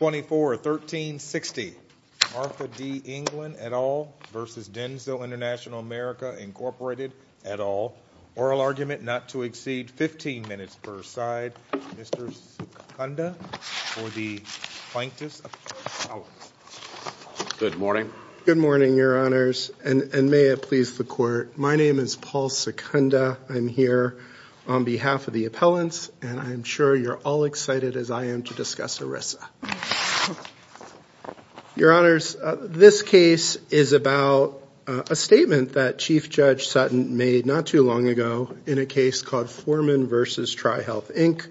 24-13-60 Martha D. England et al. v. DENSO Intl America Inc. et al. Oral argument not to exceed 15 minutes per side. Mr. Secunda for the Plaintiff's Appellant's. Good morning. Good morning, your honors. And may it please the court, my name is Paul Secunda. I'm here on behalf of the appellants and I'm sure you're all excited as I am to discuss ERISA. Your honors, this case is about a statement that Chief Judge Sutton made not too long ago in a case called Foreman v. Tri-Health Inc.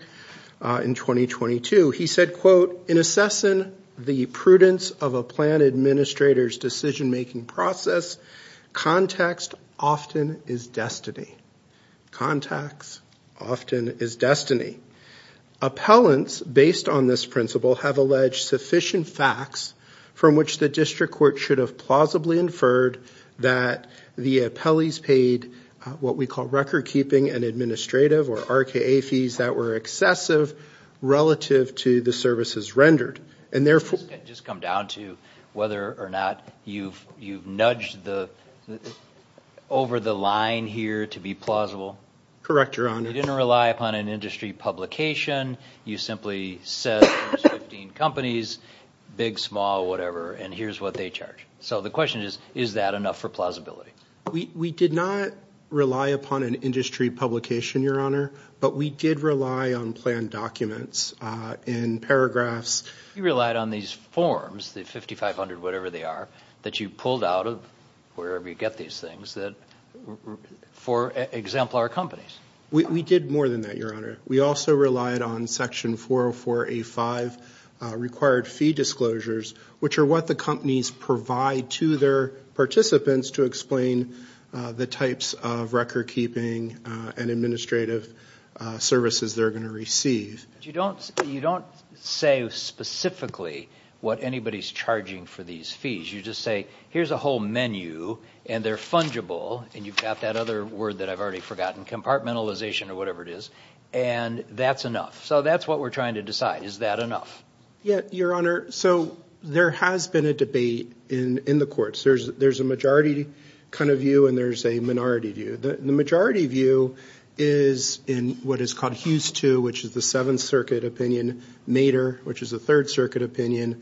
in 2022. He said, quote, in assessing the prudence of a plan administrator's decision-making process, context often is destiny. Context often is destiny. Appellants, based on this principle, have alleged sufficient facts from which the district court should have plausibly inferred that the appellees paid what we call record-keeping and administrative or RKA fees that were excessive relative to the services rendered. Can I just come down to whether or not you've nudged over the line here to be plausible? Correct, your honor. You didn't rely upon an industry publication. You simply said there's 15 companies, big, small, whatever, and here's what they charge. So the question is, is that enough for plausibility? We did not rely upon an industry publication, your honor, but we did rely on planned documents in paragraphs. You relied on these forms, the 5,500 whatever they are, that you pulled out of wherever you get these things that, for example, are companies. We did more than that, your honor. We also relied on section 404A5 required fee disclosures, which are what the companies provide to their participants to explain the types of record-keeping and administrative services they're going to receive. You don't say specifically what anybody's charging for these fees. You just say, here's a whole menu, and they're fungible, and you've got that other word that I've already forgotten, compartmentalization or whatever it is, and that's enough. So that's what we're trying to decide. Is that enough? Yeah, your honor. So there has been a debate in the courts. There's a majority kind of view, and there's a minority view. The majority view is in what is called Hughes 2, which is the Seventh Circuit opinion, Mater, which is the Third Circuit opinion,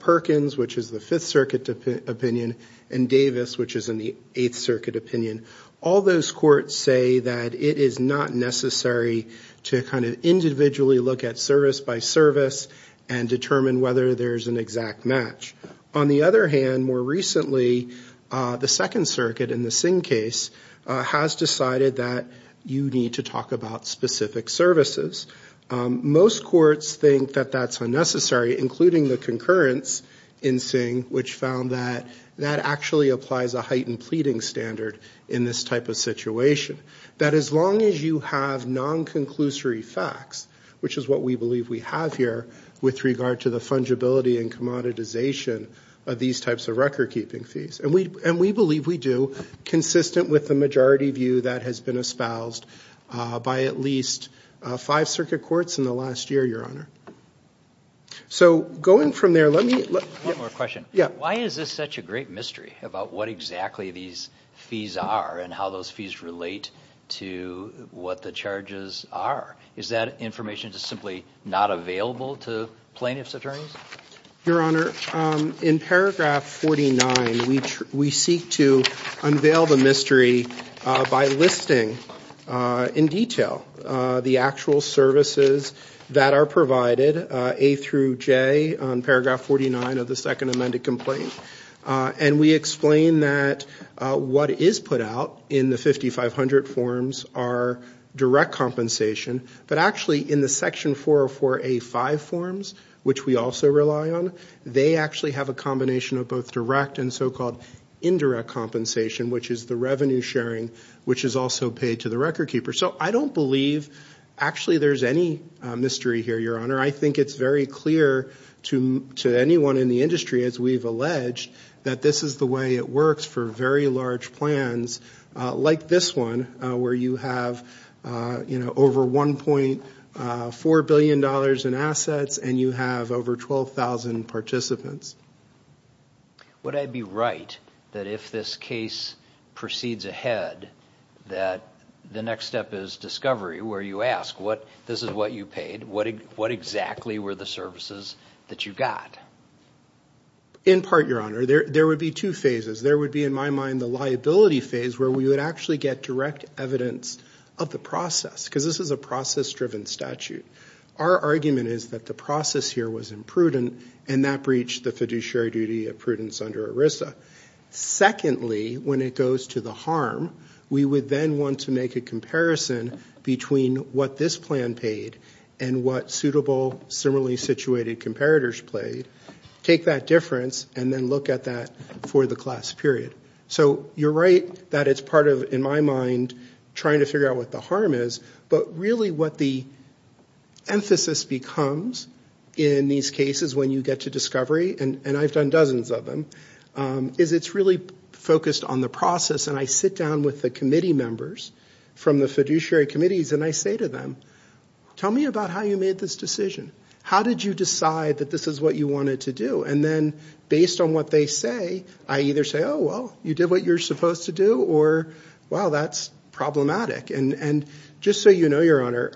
Perkins, which is the Fifth Circuit opinion, and Davis, which is in the Eighth Circuit opinion. All those courts say that it is not necessary to kind of individually look at service by service and determine whether there's an exact match. On the other hand, more recently, the Second Circuit in the Singh case has decided that you need to talk about specific services. Most courts think that that's unnecessary, including the concurrence in Singh, which found that that actually applies a heightened pleading standard in this type of situation. That as long as you have non-conclusory facts, which is what we believe we have here with regard to the fungibility and commoditization of these types of record-keeping fees, and we believe we do, consistent with the majority view that has been espoused by at least five circuit courts in the last year, your honor. So going from there, let me... One more question. Why is this such a great mystery about what exactly these fees are and how those fees relate to what the charges are? Is that information just simply not available to plaintiff's attorneys? Your honor, in paragraph 49, we seek to unveil the mystery by listing in detail the actual services that are provided, A through J, on paragraph 49 of the Second Amended Complaint. And we explain that what is put out in the 5500 forms are direct compensation, but actually in the section 404A5 forms, which we also rely on, they actually have a combination of both direct and so-called indirect compensation, which is the revenue sharing, which is also paid to the record keeper. So I don't believe actually there's any mystery here, your honor. I think it's very clear to anyone in the industry, as we've alleged, that this is the way it works for very large plans like this one, where you have over $1.4 billion in assets and you have over 12,000 participants. Would I be right that if this case proceeds ahead, that the next step is discovery, where you ask, this is what you paid, what exactly were the services that you got? In part, your honor, there would be two phases. There would be, in my mind, the liability phase, where we would actually get direct evidence of the process, because this is a process-driven statute. Our argument is that the process here was imprudent, and that breached the fiduciary duty of prudence under ERISA. Secondly, when it goes to the harm, we would then want to make a comparison between what this plan paid and what suitable, similarly situated comparators played, take that difference, and then look at that for the class period. You're right that it's part of, in my mind, trying to figure out what the harm is, but really what the emphasis becomes in these cases when you get to discovery, and I've done dozens of them, is it's really focused on the process. I sit down with the committee members from the fiduciary committees, and I say to them, tell me about how you made this decision. How did you decide that this is what you wanted to do? And then, based on what they say, I either say, oh, well, you did what you were supposed to do, or, wow, that's problematic. And just so you know, Your Honor,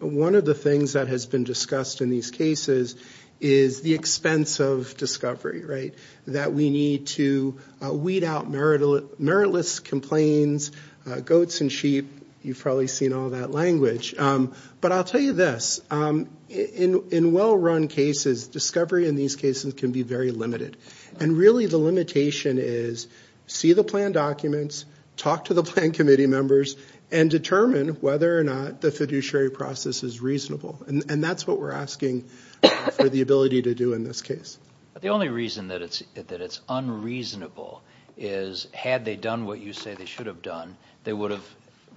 one of the things that has been discussed in these cases is the expense of discovery, right? That we need to weed out meritless complaints, goats and sheep, you've probably seen all that language. But I'll tell you this, in well-run cases, discovery in these cases can be very limited, and really the limitation is see the plan documents, talk to the plan committee members, and determine whether or not the fiduciary process is reasonable, and that's what we're asking for the ability to do in this case. But the only reason that it's unreasonable is, had they done what you say they should have done, it would have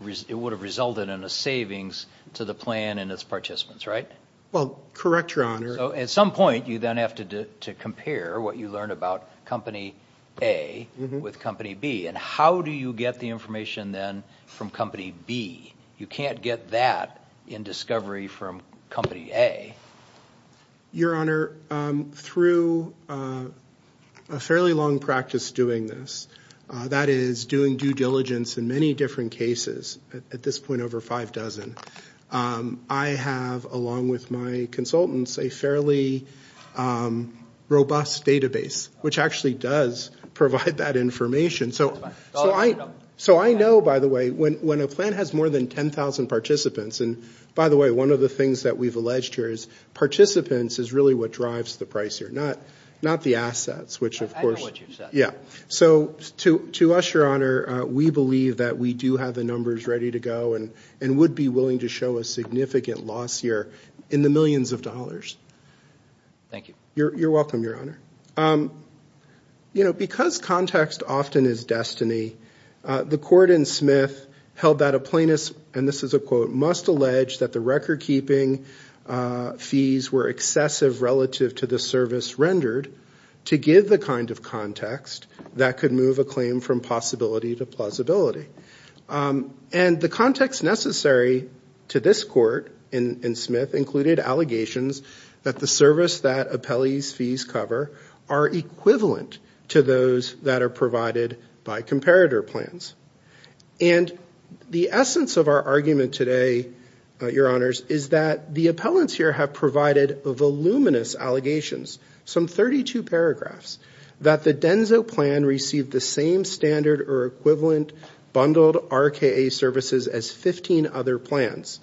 resulted in a savings to the plan and its participants, right? Well, correct, Your Honor. So at some point, you then have to compare what you learned about Company A with Company B, and how do you get the information then from Company B? You can't get that in discovery from Company A. Your Honor, through a fairly long practice doing this, that is doing due diligence in many different cases, at this point over five dozen, I have, along with my consultants, a fairly robust database, which actually does provide that information. So I know, by the way, when a plan has more than 10,000 participants, and by the way, one of the things that we've alleged here is participants is really what drives the price here, not the assets. I know what you said. Yeah. So to us, Your Honor, we believe that we do have the numbers ready to go and would be willing to show a significant loss here in the millions of dollars. Thank you. You're welcome, Your Honor. You know, because context often is destiny, the court in Smith held that a plaintiff, and this is a quote, must allege that the record-keeping fees were excessive relative to the service rendered to give the kind of context that could move a claim from possibility to plausibility. And the context necessary to this court in Smith included allegations that the service that appellees' fees cover are equivalent to those that are provided by comparator plans. And the essence of our argument today, Your Honors, is that the appellants here have provided voluminous allegations, some 32 paragraphs, that the Denso plan received the same standard or equivalent bundled RKA services as 15 other plans.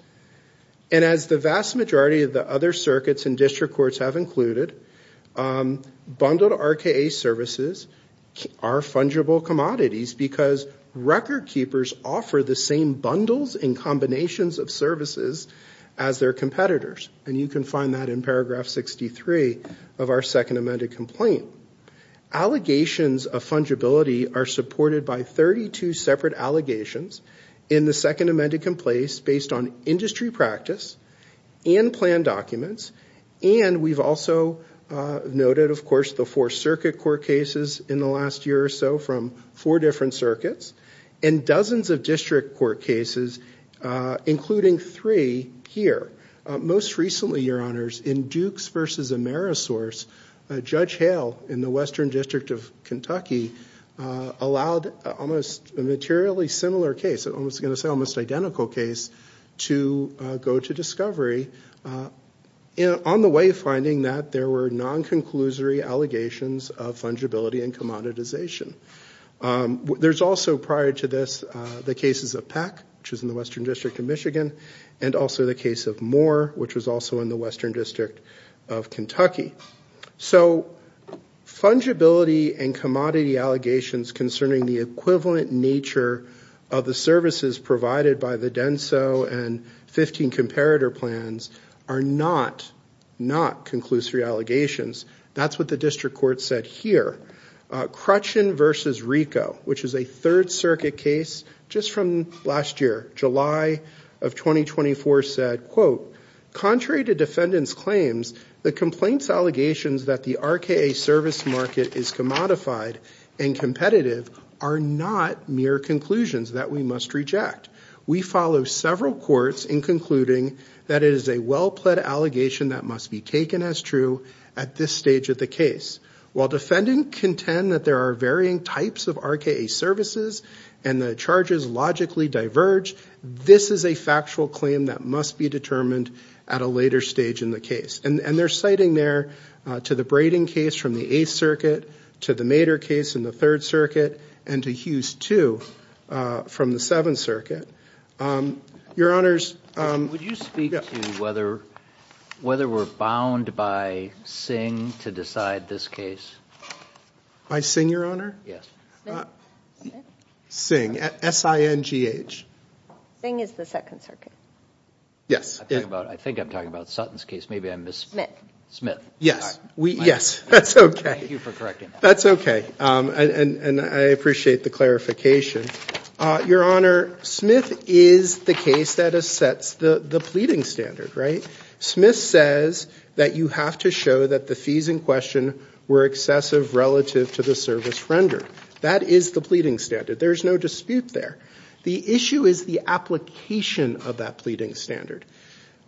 And as the vast majority of the other circuits and district courts have included, bundled RKA services are fungible commodities because record-keepers offer the same bundles and combinations of services as their competitors. And you can find that in paragraph 63 of our second amended complaint. Allegations of fungibility are supported by 32 separate allegations in the second amended complaint based on industry practice and plan documents. And we've also noted, of course, the four circuit court cases in the last year or so from four different circuits and dozens of district court cases, including three here. Most recently, Your Honors, in Dukes v. Amerisource, Judge Hale in the Western District of Kentucky allowed almost a materially similar case, I was going to say almost identical case, to go to discovery, on the way finding that there were non-conclusory allegations of fungibility and commoditization. There's also, prior to this, the cases of Peck, which is in the Western District of Michigan, and also the case of Moore, which was also in the Western District of Kentucky. So fungibility and commodity allegations concerning the equivalent nature of the services provided by the DENSO and 15 comparator plans are not not conclusory allegations. That's what the district court said here. Crutchin v. Rico, which is a third circuit case just from last year, July of 2024, said, Contrary to defendants' claims, the complaints allegations that the RKA service market is commodified and competitive are not mere conclusions that we must reject. We follow several courts in concluding that it is a well-pledged allegation that must be taken as true at this stage of the case. While defendants contend that there are varying types of RKA services and the charges logically diverge, this is a factual claim that must be determined at a later stage in the case. And they're citing there to the Braden case from the Eighth Circuit, to the Mader case in the Third Circuit, and to Hughes II from the Seventh Circuit. Your Honors, Would you speak to whether we're bound by Singh to decide this case? By Singh, Your Honor? Yes. Singh, S-I-N-G-H. Singh is the Second Circuit. Yes. I think I'm talking about Sutton's case, maybe I missed. Smith, yes. Yes, that's okay. Thank you for correcting that. That's okay, and I appreciate the clarification. Your Honor, Smith is the case that sets the pleading standard, right? Smith says that you have to show that the fees in question were excessive relative to the service rendered. That is the pleading standard. There is no dispute there. The issue is the application of that pleading standard.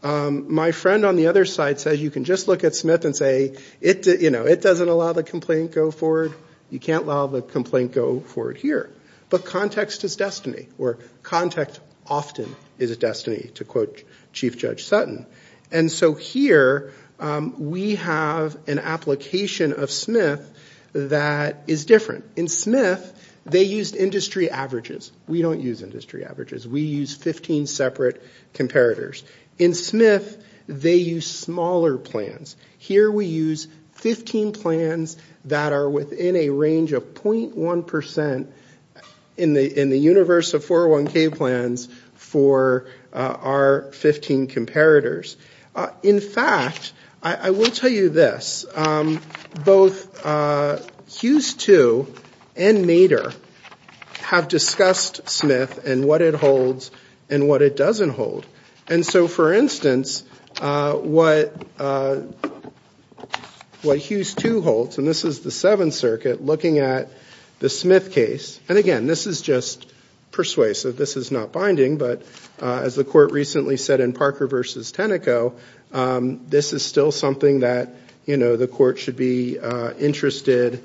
My friend on the other side says you can just look at Smith and say, you know, it doesn't allow the complaint to go forward. You can't allow the complaint to go forward here. But context is destiny, or context often is destiny, to quote Chief Judge Sutton. And so here we have an application of Smith that is different. In Smith, they used industry averages. We don't use industry averages. We use 15 separate comparators. In Smith, they use smaller plans. Here we use 15 plans that are within a range of .1% in the universe of 401K plans for our 15 comparators. In fact, I will tell you this. Both Hughes II and Maeder have discussed Smith and what it holds and what it doesn't hold. And so, for instance, what Hughes II holds, and this is the Seventh Circuit looking at the Smith case. And again, this is just persuasive. This is not binding. But as the court recently said in Parker v. Tenneco, this is still something that, you know, the court should be interested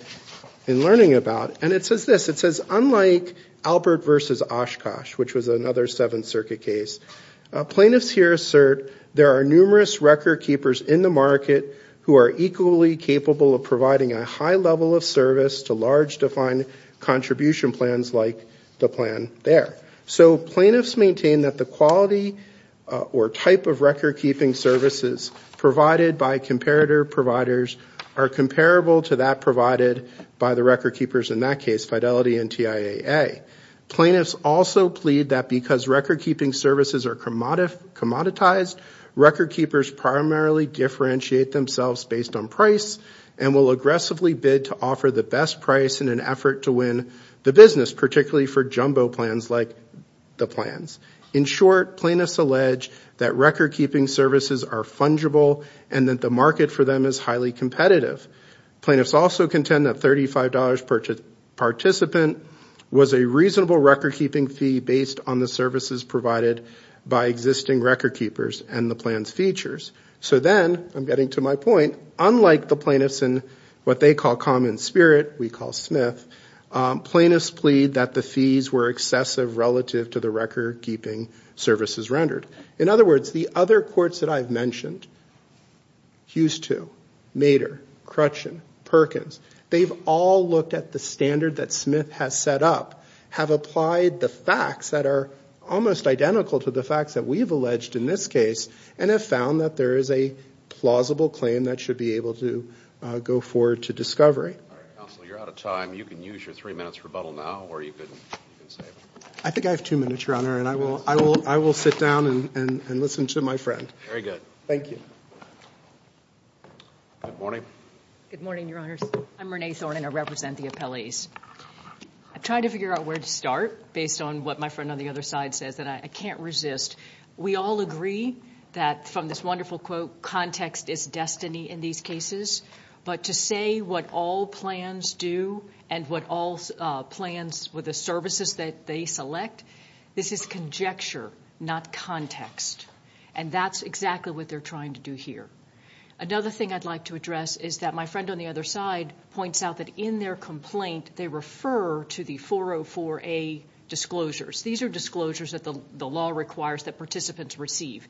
in learning about. And it says this. It says, unlike Albert v. Oshkosh, which was another Seventh Circuit case, plaintiffs here assert there are numerous record keepers in the market who are equally capable of providing a high level of service to large defined contribution plans like the plan there. So plaintiffs maintain that the quality or type of record keeping services provided by comparator providers are comparable to that provided by the record keepers in that case, Fidelity and TIAA. Plaintiffs also plead that because record keeping services are commoditized, record keepers primarily differentiate themselves based on price and will aggressively bid to offer the best price in an effort to win the business, particularly for jumbo plans like the plans. In short, plaintiffs allege that record keeping services are fungible and that the market for them is highly competitive. Plaintiffs also contend that $35 per participant was a reasonable record keeping fee based on the services provided by existing record keepers and the plan's features. So then, I'm getting to my point, unlike the plaintiffs in what they call common spirit, we call Smith, plaintiffs plead that the fees were excessive relative to the record keeping services rendered. In other words, the other courts that I've mentioned, Hughes II, Mater, Crutchin, Perkins, they've all looked at the standard that Smith has set up, have applied the facts that are almost identical to the facts that we've alleged in this case and have found that there is a plausible claim that should be able to go forward to discovery. All right, counsel, you're out of time. You can use your three minutes rebuttal now or you can stay. I think I have two minutes, Your Honor, and I will sit down and listen to my friend. Very good. Thank you. Good morning. Good morning, Your Honors. I'm Renee Thorne and I represent the appellees. I'm trying to figure out where to start based on what my friend on the other side says and I can't resist. We all agree that from this wonderful quote, context is destiny in these cases, but to say what all plans do and what all plans with the services that they select, this is conjecture, not context, and that's exactly what they're trying to do here. Another thing I'd like to address is that my friend on the other side points out that in their complaint, they refer to the 404A disclosures. These are disclosures that the law requires that participants receive.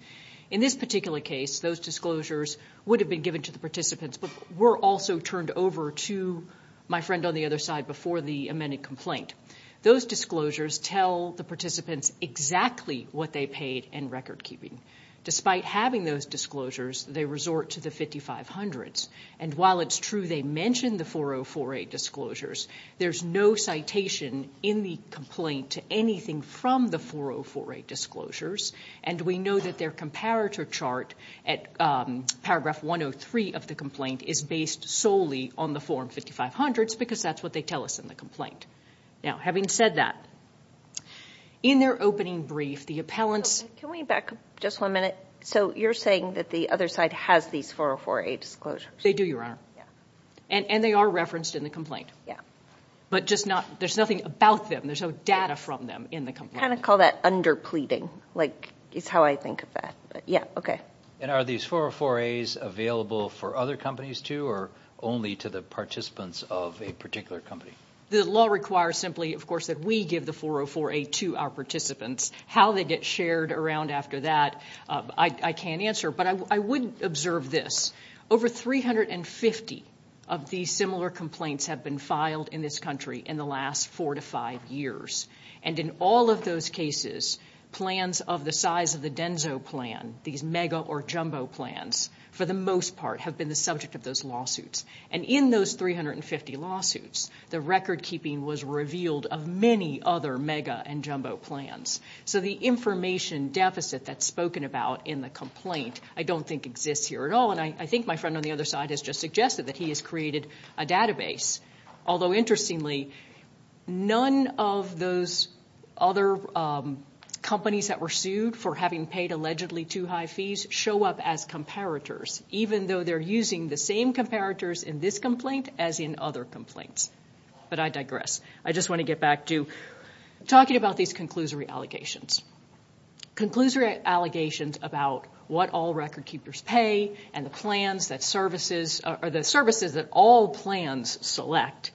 In this particular case, those disclosures would have been given to the participants but were also turned over to my friend on the other side before the amended complaint. Those disclosures tell the participants exactly what they paid in record keeping. Despite having those disclosures, they resort to the 5500s, and while it's true they mention the 404A disclosures, there's no citation in the complaint to anything from the 404A disclosures, and we know that their comparator chart at paragraph 103 of the complaint is based solely on the form 5500s because that's what they tell us in the complaint. Having said that, in their opening brief, the appellants... Can we back up just one minute? You're saying that the other side has these 404A disclosures? They do, Your Honor, and they are referenced in the complaint. But there's nothing about them, there's no data from them in the complaint. Kind of call that under pleading, is how I think of that. Are these 404As available for other companies too or only to the participants of a particular company? The law requires simply, of course, that we give the 404A to our participants. How they get shared around after that, I can't answer, but I would observe this. Over 350 of these similar complaints have been filed in this country in the last four to five years. And in all of those cases, plans of the size of the Denso plan, these mega or jumbo plans, for the most part have been the subject of those lawsuits. And in those 350 lawsuits, the record-keeping was revealed of many other mega and jumbo plans. So the information deficit that's spoken about in the complaint I don't think exists here at all, and I think my friend on the other side has just suggested that he has created a database. Although interestingly, none of those other companies that were sued for having paid allegedly too high fees show up as comparators, even though they're using the same comparators in this complaint as in other complaints. But I digress. I just want to get back to talking about these conclusory allegations. Conclusory allegations about what all record-keepers pay and the services that all plans select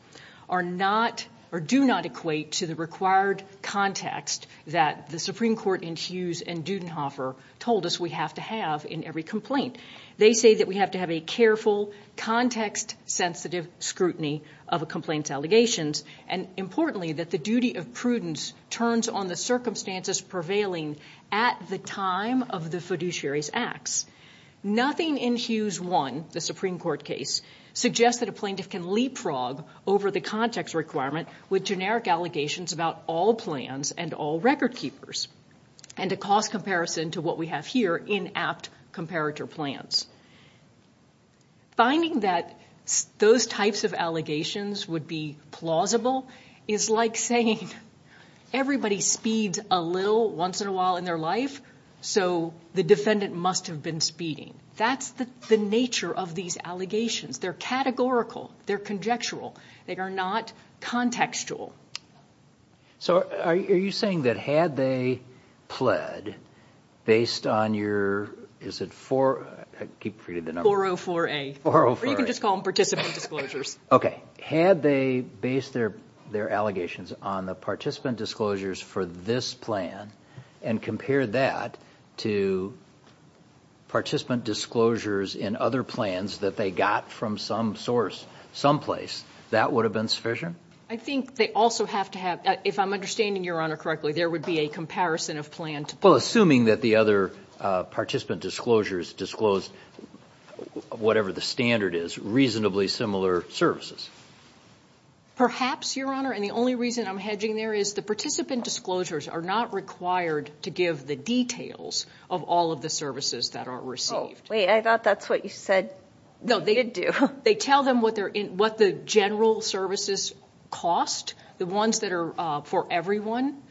do not equate to the required context that the Supreme Court in Hughes and Dudenhofer told us we have to have in every complaint. They say that we have to have a careful, context-sensitive scrutiny of a complaint's allegations, and importantly, that the duty of prudence turns on the circumstances prevailing at the time of the fiduciary's acts. Nothing in Hughes 1, the Supreme Court case, suggests that a plaintiff can leapfrog over the context requirement with generic allegations about all plans and all record-keepers and a cost comparison to what we have here in apt comparator plans. Finding that those types of allegations would be plausible is like saying everybody speeds a little once in a while in their life, so the defendant must have been speeding. That's the nature of these allegations. They're categorical. They're conjectural. They are not contextual. So are you saying that had they pled based on your... Is it 404A? Or you can just call them participant disclosures. Okay. Had they based their allegations on the participant disclosures for this plan and compared that to participant disclosures in other plans that they got from some source someplace, that would have been sufficient? I think they also have to have, if I'm understanding Your Honor correctly, there would be a comparison of plan to plan. Well, assuming that the other participant disclosures disclosed whatever the standard is, reasonably similar services. Perhaps, Your Honor, and the only reason I'm hedging there is the participant disclosures are not required to give the details of all of the services that are received. Oh, wait. I thought that's what you said they did do. They tell them what the general services cost, the ones that are for everyone.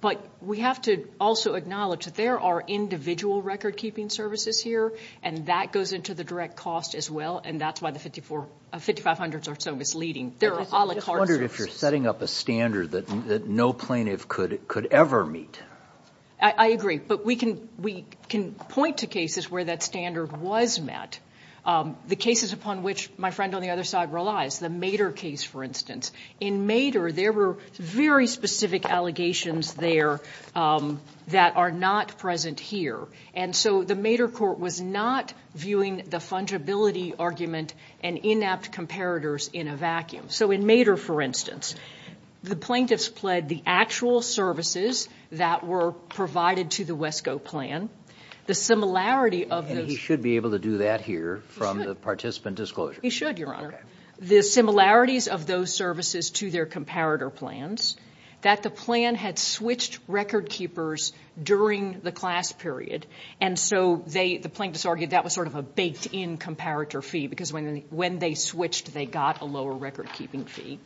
But we have to also acknowledge that there are individual record-keeping services here, and that goes into the direct cost as well, and that's why the 5,500 or so is leading. I just wonder if you're setting up a standard that no plaintiff could ever meet. I agree. But we can point to cases where that standard was met. The cases upon which my friend on the other side relies, the Mater case, for instance. In Mater, there were very specific allegations there that are not present here, and so the Mater court was not viewing the fungibility argument and inept comparators in a vacuum. So in Mater, for instance, the plaintiffs pled the actual services that were provided to the WESCO plan. And he should be able to do that here from the participant disclosure. He should, Your Honor. The similarities of those services to their comparator plans, that the plan had switched record-keepers during the class period, and so the plaintiffs argued that was sort of a baked-in comparator fee because when they switched, they got a lower record-keeping fee.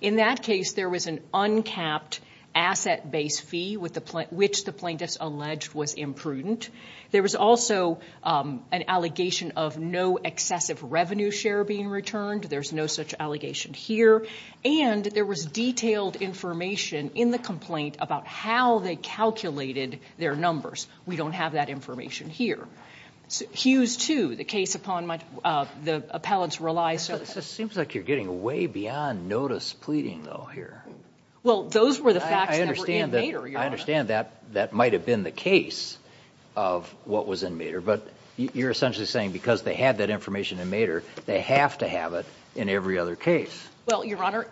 In that case, there was an uncapped asset-based fee, which the plaintiffs alleged was imprudent. There was also an allegation of no excessive revenue share being returned. There's no such allegation here. And there was detailed information in the complaint about how they calculated their numbers. We don't have that information here. Hughes 2, the case upon which the appellants rely. It seems like you're getting way beyond notice pleading, though, here. Well, those were the facts that were in Mater, Your Honor. I understand that that might have been the case of what was in Mater, but you're essentially saying because they had that information in Mater, they have to have it in every other case. Well, Your Honor,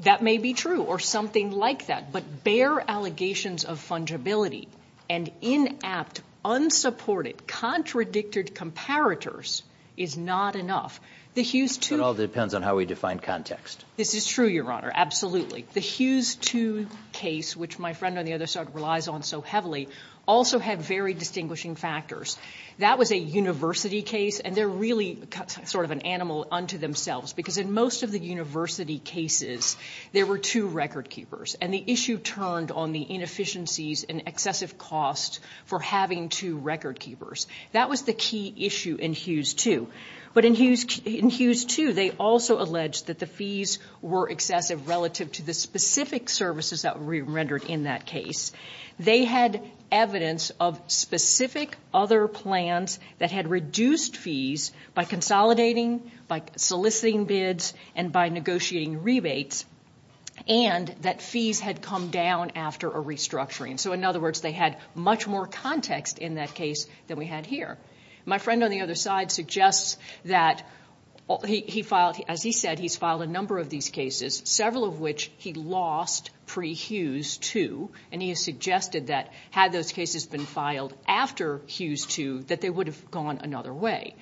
that may be true or something like that, but bare allegations of fungibility and inept, unsupported, contradicted comparators is not enough. It all depends on how we define context. This is true, Your Honor, absolutely. The Hughes 2 case, which my friend on the other side relies on so heavily, also had very distinguishing factors. That was a university case, and they're really sort of an animal unto themselves because in most of the university cases, there were two record-keepers, and the issue turned on the inefficiencies and excessive cost for having two record-keepers. That was the key issue in Hughes 2. But in Hughes 2, they also alleged that the fees were excessive relative to the specific services that were rendered in that case. They had evidence of specific other plans that had reduced fees by consolidating, by soliciting bids, and by negotiating rebates, and that fees had come down after a restructuring. So in other words, they had much more context in that case than we had here. My friend on the other side suggests that he filed, as he said, he's filed a number of these cases, several of which he lost pre-Hughes 2, and he has suggested that had those cases been filed after Hughes 2, that they would have gone another way.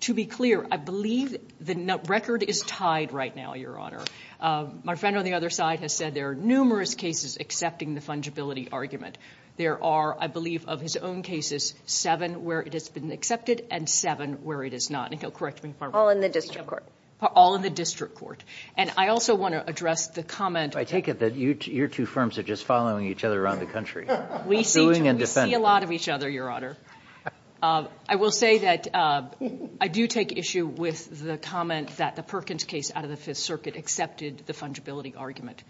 To be clear, I believe the record is tied right now, Your Honor. My friend on the other side has said there are numerous cases accepting the fungibility argument. There are, I believe, of his own cases, seven where it has been accepted and seven where it is not. And he'll correct me if I'm wrong. All in the district court. All in the district court. And I also want to address the comment. I take it that your two firms are just following each other around the country. We see a lot of each other, Your Honor. I will say that I do take issue with the comment that the Perkins case out of the Fifth Circuit accepted the fungibility argument.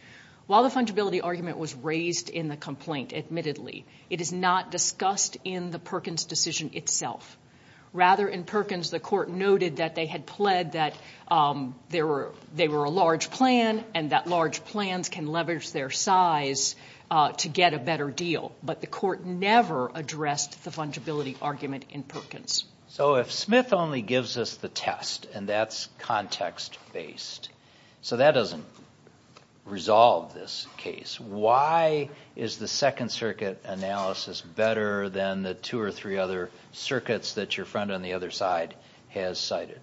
While the fungibility argument was raised in the complaint, admittedly, it is not discussed in the Perkins decision itself. Rather, in Perkins, the court noted that they had pled that they were a large plan and that large plans can leverage their size to get a better deal. But the court never addressed the fungibility argument in Perkins. So if Smith only gives us the test, and that's context-based, so that doesn't resolve this case. Why is the Second Circuit analysis better than the two or three other circuits that your friend on the other side has cited?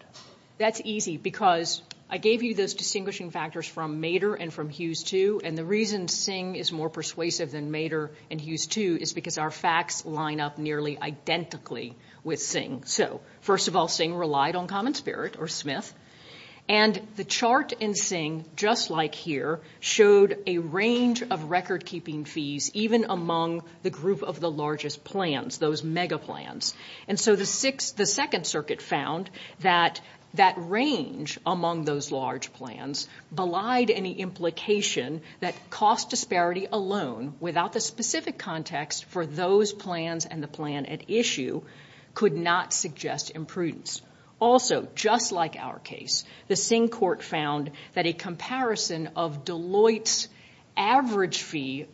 That's easy, because I gave you those distinguishing factors from Mater and from Hughes too, and the reason Singh is more persuasive than Mater and Hughes too is because our facts line up nearly identically with Singh. So, first of all, Singh relied on common spirit, or Smith. And the chart in Singh, just like here, showed a range of record-keeping fees even among the group of the largest plans, those mega plans. And so the Second Circuit found that that range among those large plans belied any implication that cost disparity alone, without the specific context for those plans and the plan at issue, could not suggest imprudence. Also, just like our case, the Singh court found that a comparison of Deloitte's average fee,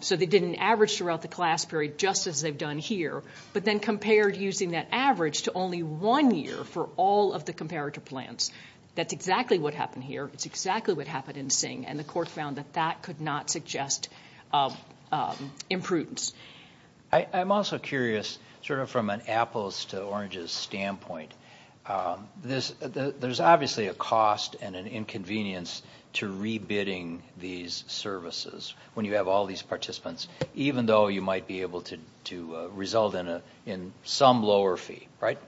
so they did an average throughout the class period just as they've done here, but then compared using that average to only one year for all of the comparative plans. That's exactly what happened here. It's exactly what happened in Singh. And the court found that that could not suggest imprudence. I'm also curious, sort of from an apples-to-oranges standpoint, there's obviously a cost and an inconvenience to re-bidding these services when you have all these participants, even though you might be able to result in some lower fee, right?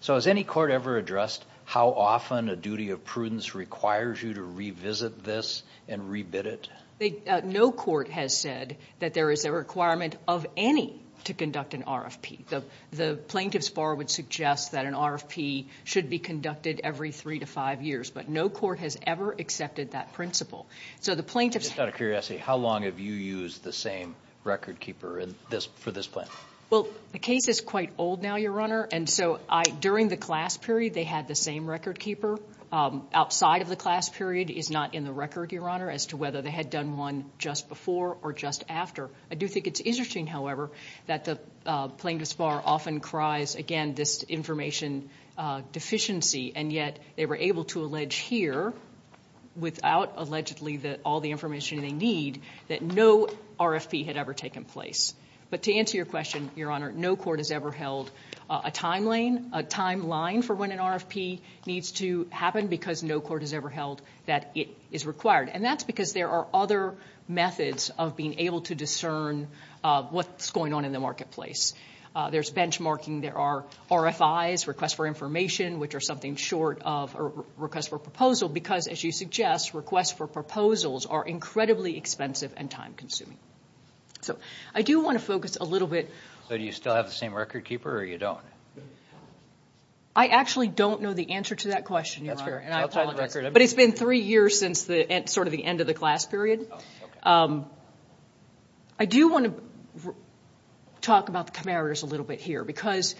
So has any court ever addressed how often a duty of prudence requires you to revisit this and re-bid it? No court has said that there is a requirement of any to conduct an RFP. The plaintiff's bar would suggest that an RFP should be conducted every three to five years, but no court has ever accepted that principle. Just out of curiosity, how long have you used the same record keeper for this plan? Well, the case is quite old now, Your Honor, and so during the class period they had the same record keeper. Outside of the class period is not in the record, Your Honor, as to whether they had done one just before or just after. I do think it's interesting, however, that the plaintiff's bar often cries, again, this information deficiency, and yet they were able to allege here, without allegedly all the information they need, that no RFP had ever taken place. But to answer your question, Your Honor, no court has ever held a timeline for when an RFP needs to happen because no court has ever held that it is required. And that's because there are other methods of being able to discern what's going on in the marketplace. There's benchmarking. There are RFIs, requests for information, which are something short of a request for a proposal because, as you suggest, requests for proposals are incredibly expensive and time-consuming. So I do want to focus a little bit... So do you still have the same record keeper or you don't? I actually don't know the answer to that question, Your Honor, and I apologize. But it's been three years since sort of the end of the class period. I do want to talk about the comparators a little bit here because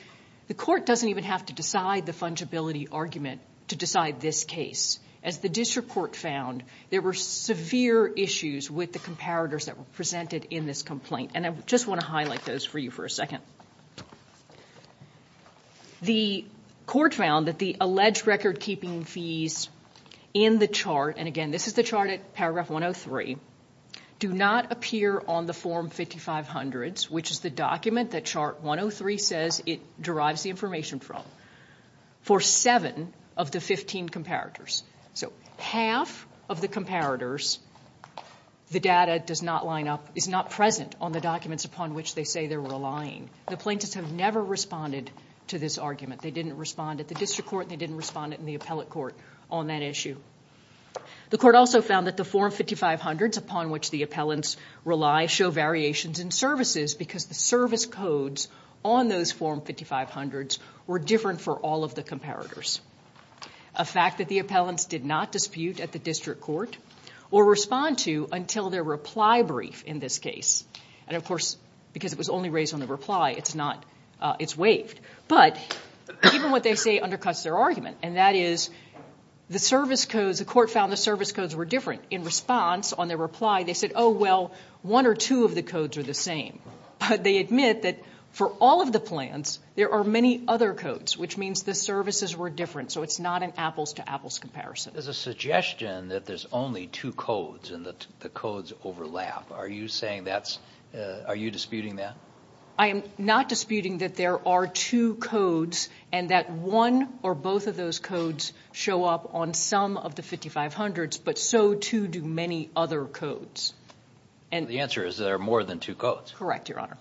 the court doesn't even have to decide the fungibility argument to decide this case. As the district court found, there were severe issues with the comparators that were presented in this complaint, and I just want to highlight those for you for a second. The court found that the alleged record-keeping fees in the chart, and again, this is the chart at paragraph 103, do not appear on the form 5500s, which is the document that chart 103 says it derives the information from, for seven of the 15 comparators. So half of the comparators, the data does not line up, is not present on the documents upon which they say they're relying. The plaintiffs have never responded to this argument. They didn't respond at the district court, and they didn't respond in the appellate court on that issue. The court also found that the form 5500s upon which the appellants rely show variations in services because the service codes on those form 5500s were different for all of the comparators. A fact that the appellants did not dispute at the district court or respond to until their reply brief in this case, and, of course, because it was only raised on the reply, it's not, it's waived. But even what they say undercuts their argument, and that is the service codes, the court found the service codes were different. In response on their reply, they said, oh, well, one or two of the codes are the same. But they admit that for all of the plans, there are many other codes, which means the services were different, so it's not an apples-to-apples comparison. There's a suggestion that there's only two codes and that the codes overlap. Are you saying that's, are you disputing that? I am not disputing that there are two codes and that one or both of those codes show up on some of the 5500s, but so, too, do many other codes. The answer is there are more than two codes. Correct, Your Honor.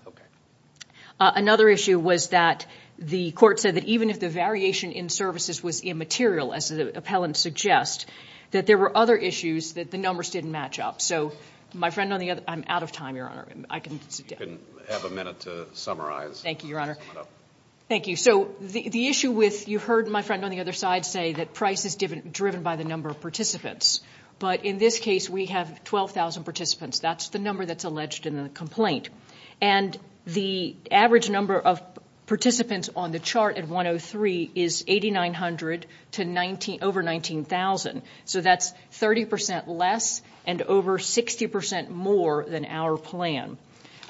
Another issue was that the court said that even if the variation in services was immaterial, as the appellant suggests, that there were other issues that the numbers didn't match up. So my friend on the other, I'm out of time, Your Honor. You can have a minute to summarize. Thank you, Your Honor. Thank you. So the issue with, you heard my friend on the other side say, that price is driven by the number of participants. But in this case, we have 12,000 participants. That's the number that's alleged in the complaint. And the average number of participants on the chart at 103 is 8,900 over 19,000. So that's 30% less and over 60% more than our plan.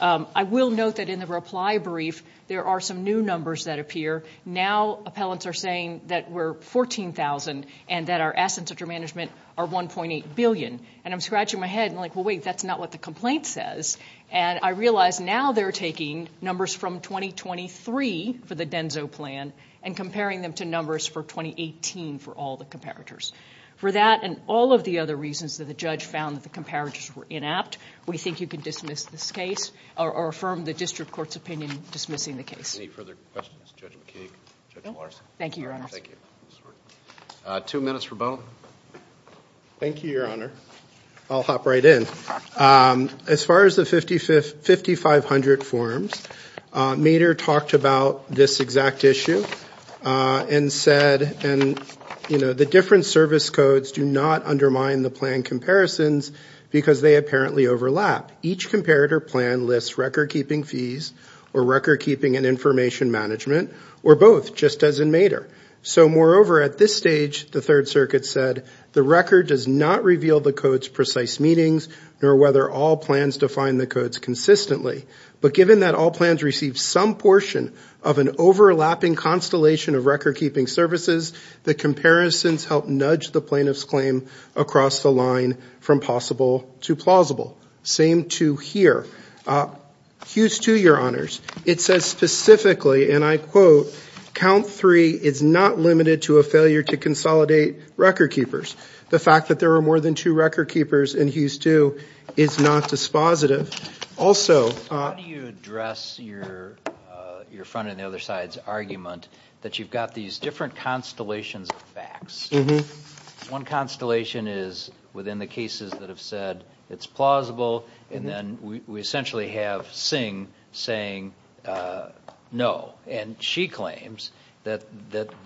I will note that in the reply brief, there are some new numbers that appear. Now appellants are saying that we're 14,000 and that our assets under management are $1.8 billion. And I'm scratching my head. I'm like, well, wait, that's not what the complaint says. And I realize now they're taking numbers from 2023 for the DENSO plan and comparing them to numbers for 2018 for all the comparators. For that and all of the other reasons that the judge found that the comparators were inapt, we think you can dismiss this case or affirm the district court's opinion dismissing the case. Any further questions? Judge McKeague? Judge Larson? Thank you, Your Honor. Thank you. Two minutes for Bowen. Thank you, Your Honor. I'll hop right in. As far as the 5500 forms, Mater talked about this exact issue and said the different service codes do not undermine the plan comparisons because they apparently overlap. Each comparator plan lists record-keeping fees or record-keeping and information management, or both, just as in Mater. So moreover, at this stage, the Third Circuit said, the record does not reveal the codes' precise meanings nor whether all plans define the codes consistently. But given that all plans receive some portion of an overlapping constellation of record-keeping services, the comparisons help nudge the plaintiff's claim across the line from possible to plausible. Same to here. Hughes, too, Your Honors, it says specifically, and I quote, count three is not limited to a failure to consolidate record-keepers. The fact that there are more than two record-keepers in Hughes, too, is not dispositive. How do you address your friend on the other side's argument that you've got these different constellations of facts? One constellation is within the cases that have said it's plausible, and then we essentially have Singh saying no. And she claims that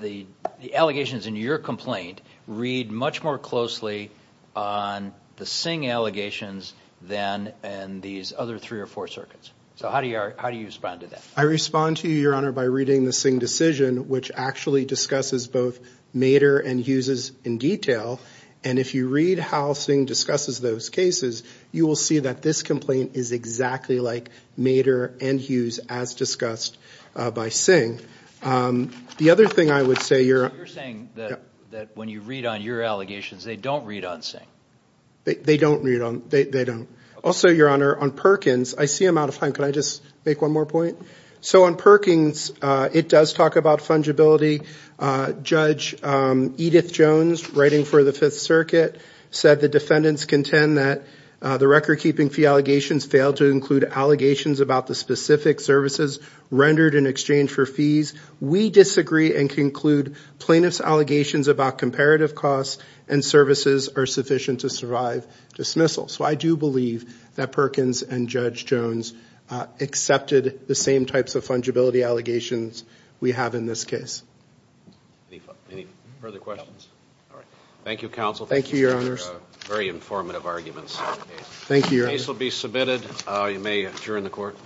the allegations in your complaint read much more closely on the Singh allegations than in these other three or four circuits. So how do you respond to that? I respond to you, Your Honor, by reading the Singh decision, which actually discusses both Mater and Hughes in detail. And if you read how Singh discusses those cases, you will see that this complaint is exactly like Mater and Hughes as discussed by Singh. The other thing I would say, Your Honor. So you're saying that when you read on your allegations, they don't read on Singh? They don't read on them. Also, Your Honor, on Perkins, I see I'm out of time. Can I just make one more point? So on Perkins, it does talk about fungibility. Judge Edith Jones, writing for the Fifth Circuit, said the defendants contend that the record-keeping fee allegations fail to include allegations about the specific services rendered in exchange for fees. We disagree and conclude plaintiff's allegations about comparative costs and services are sufficient to survive dismissal. So I do believe that Perkins and Judge Jones accepted the same types of fungibility allegations we have in this case. Any further questions? All right. Thank you, counsel. Thank you, Your Honor. Very informative arguments. Thank you, Your Honor. The case will be submitted. You may adjourn the court.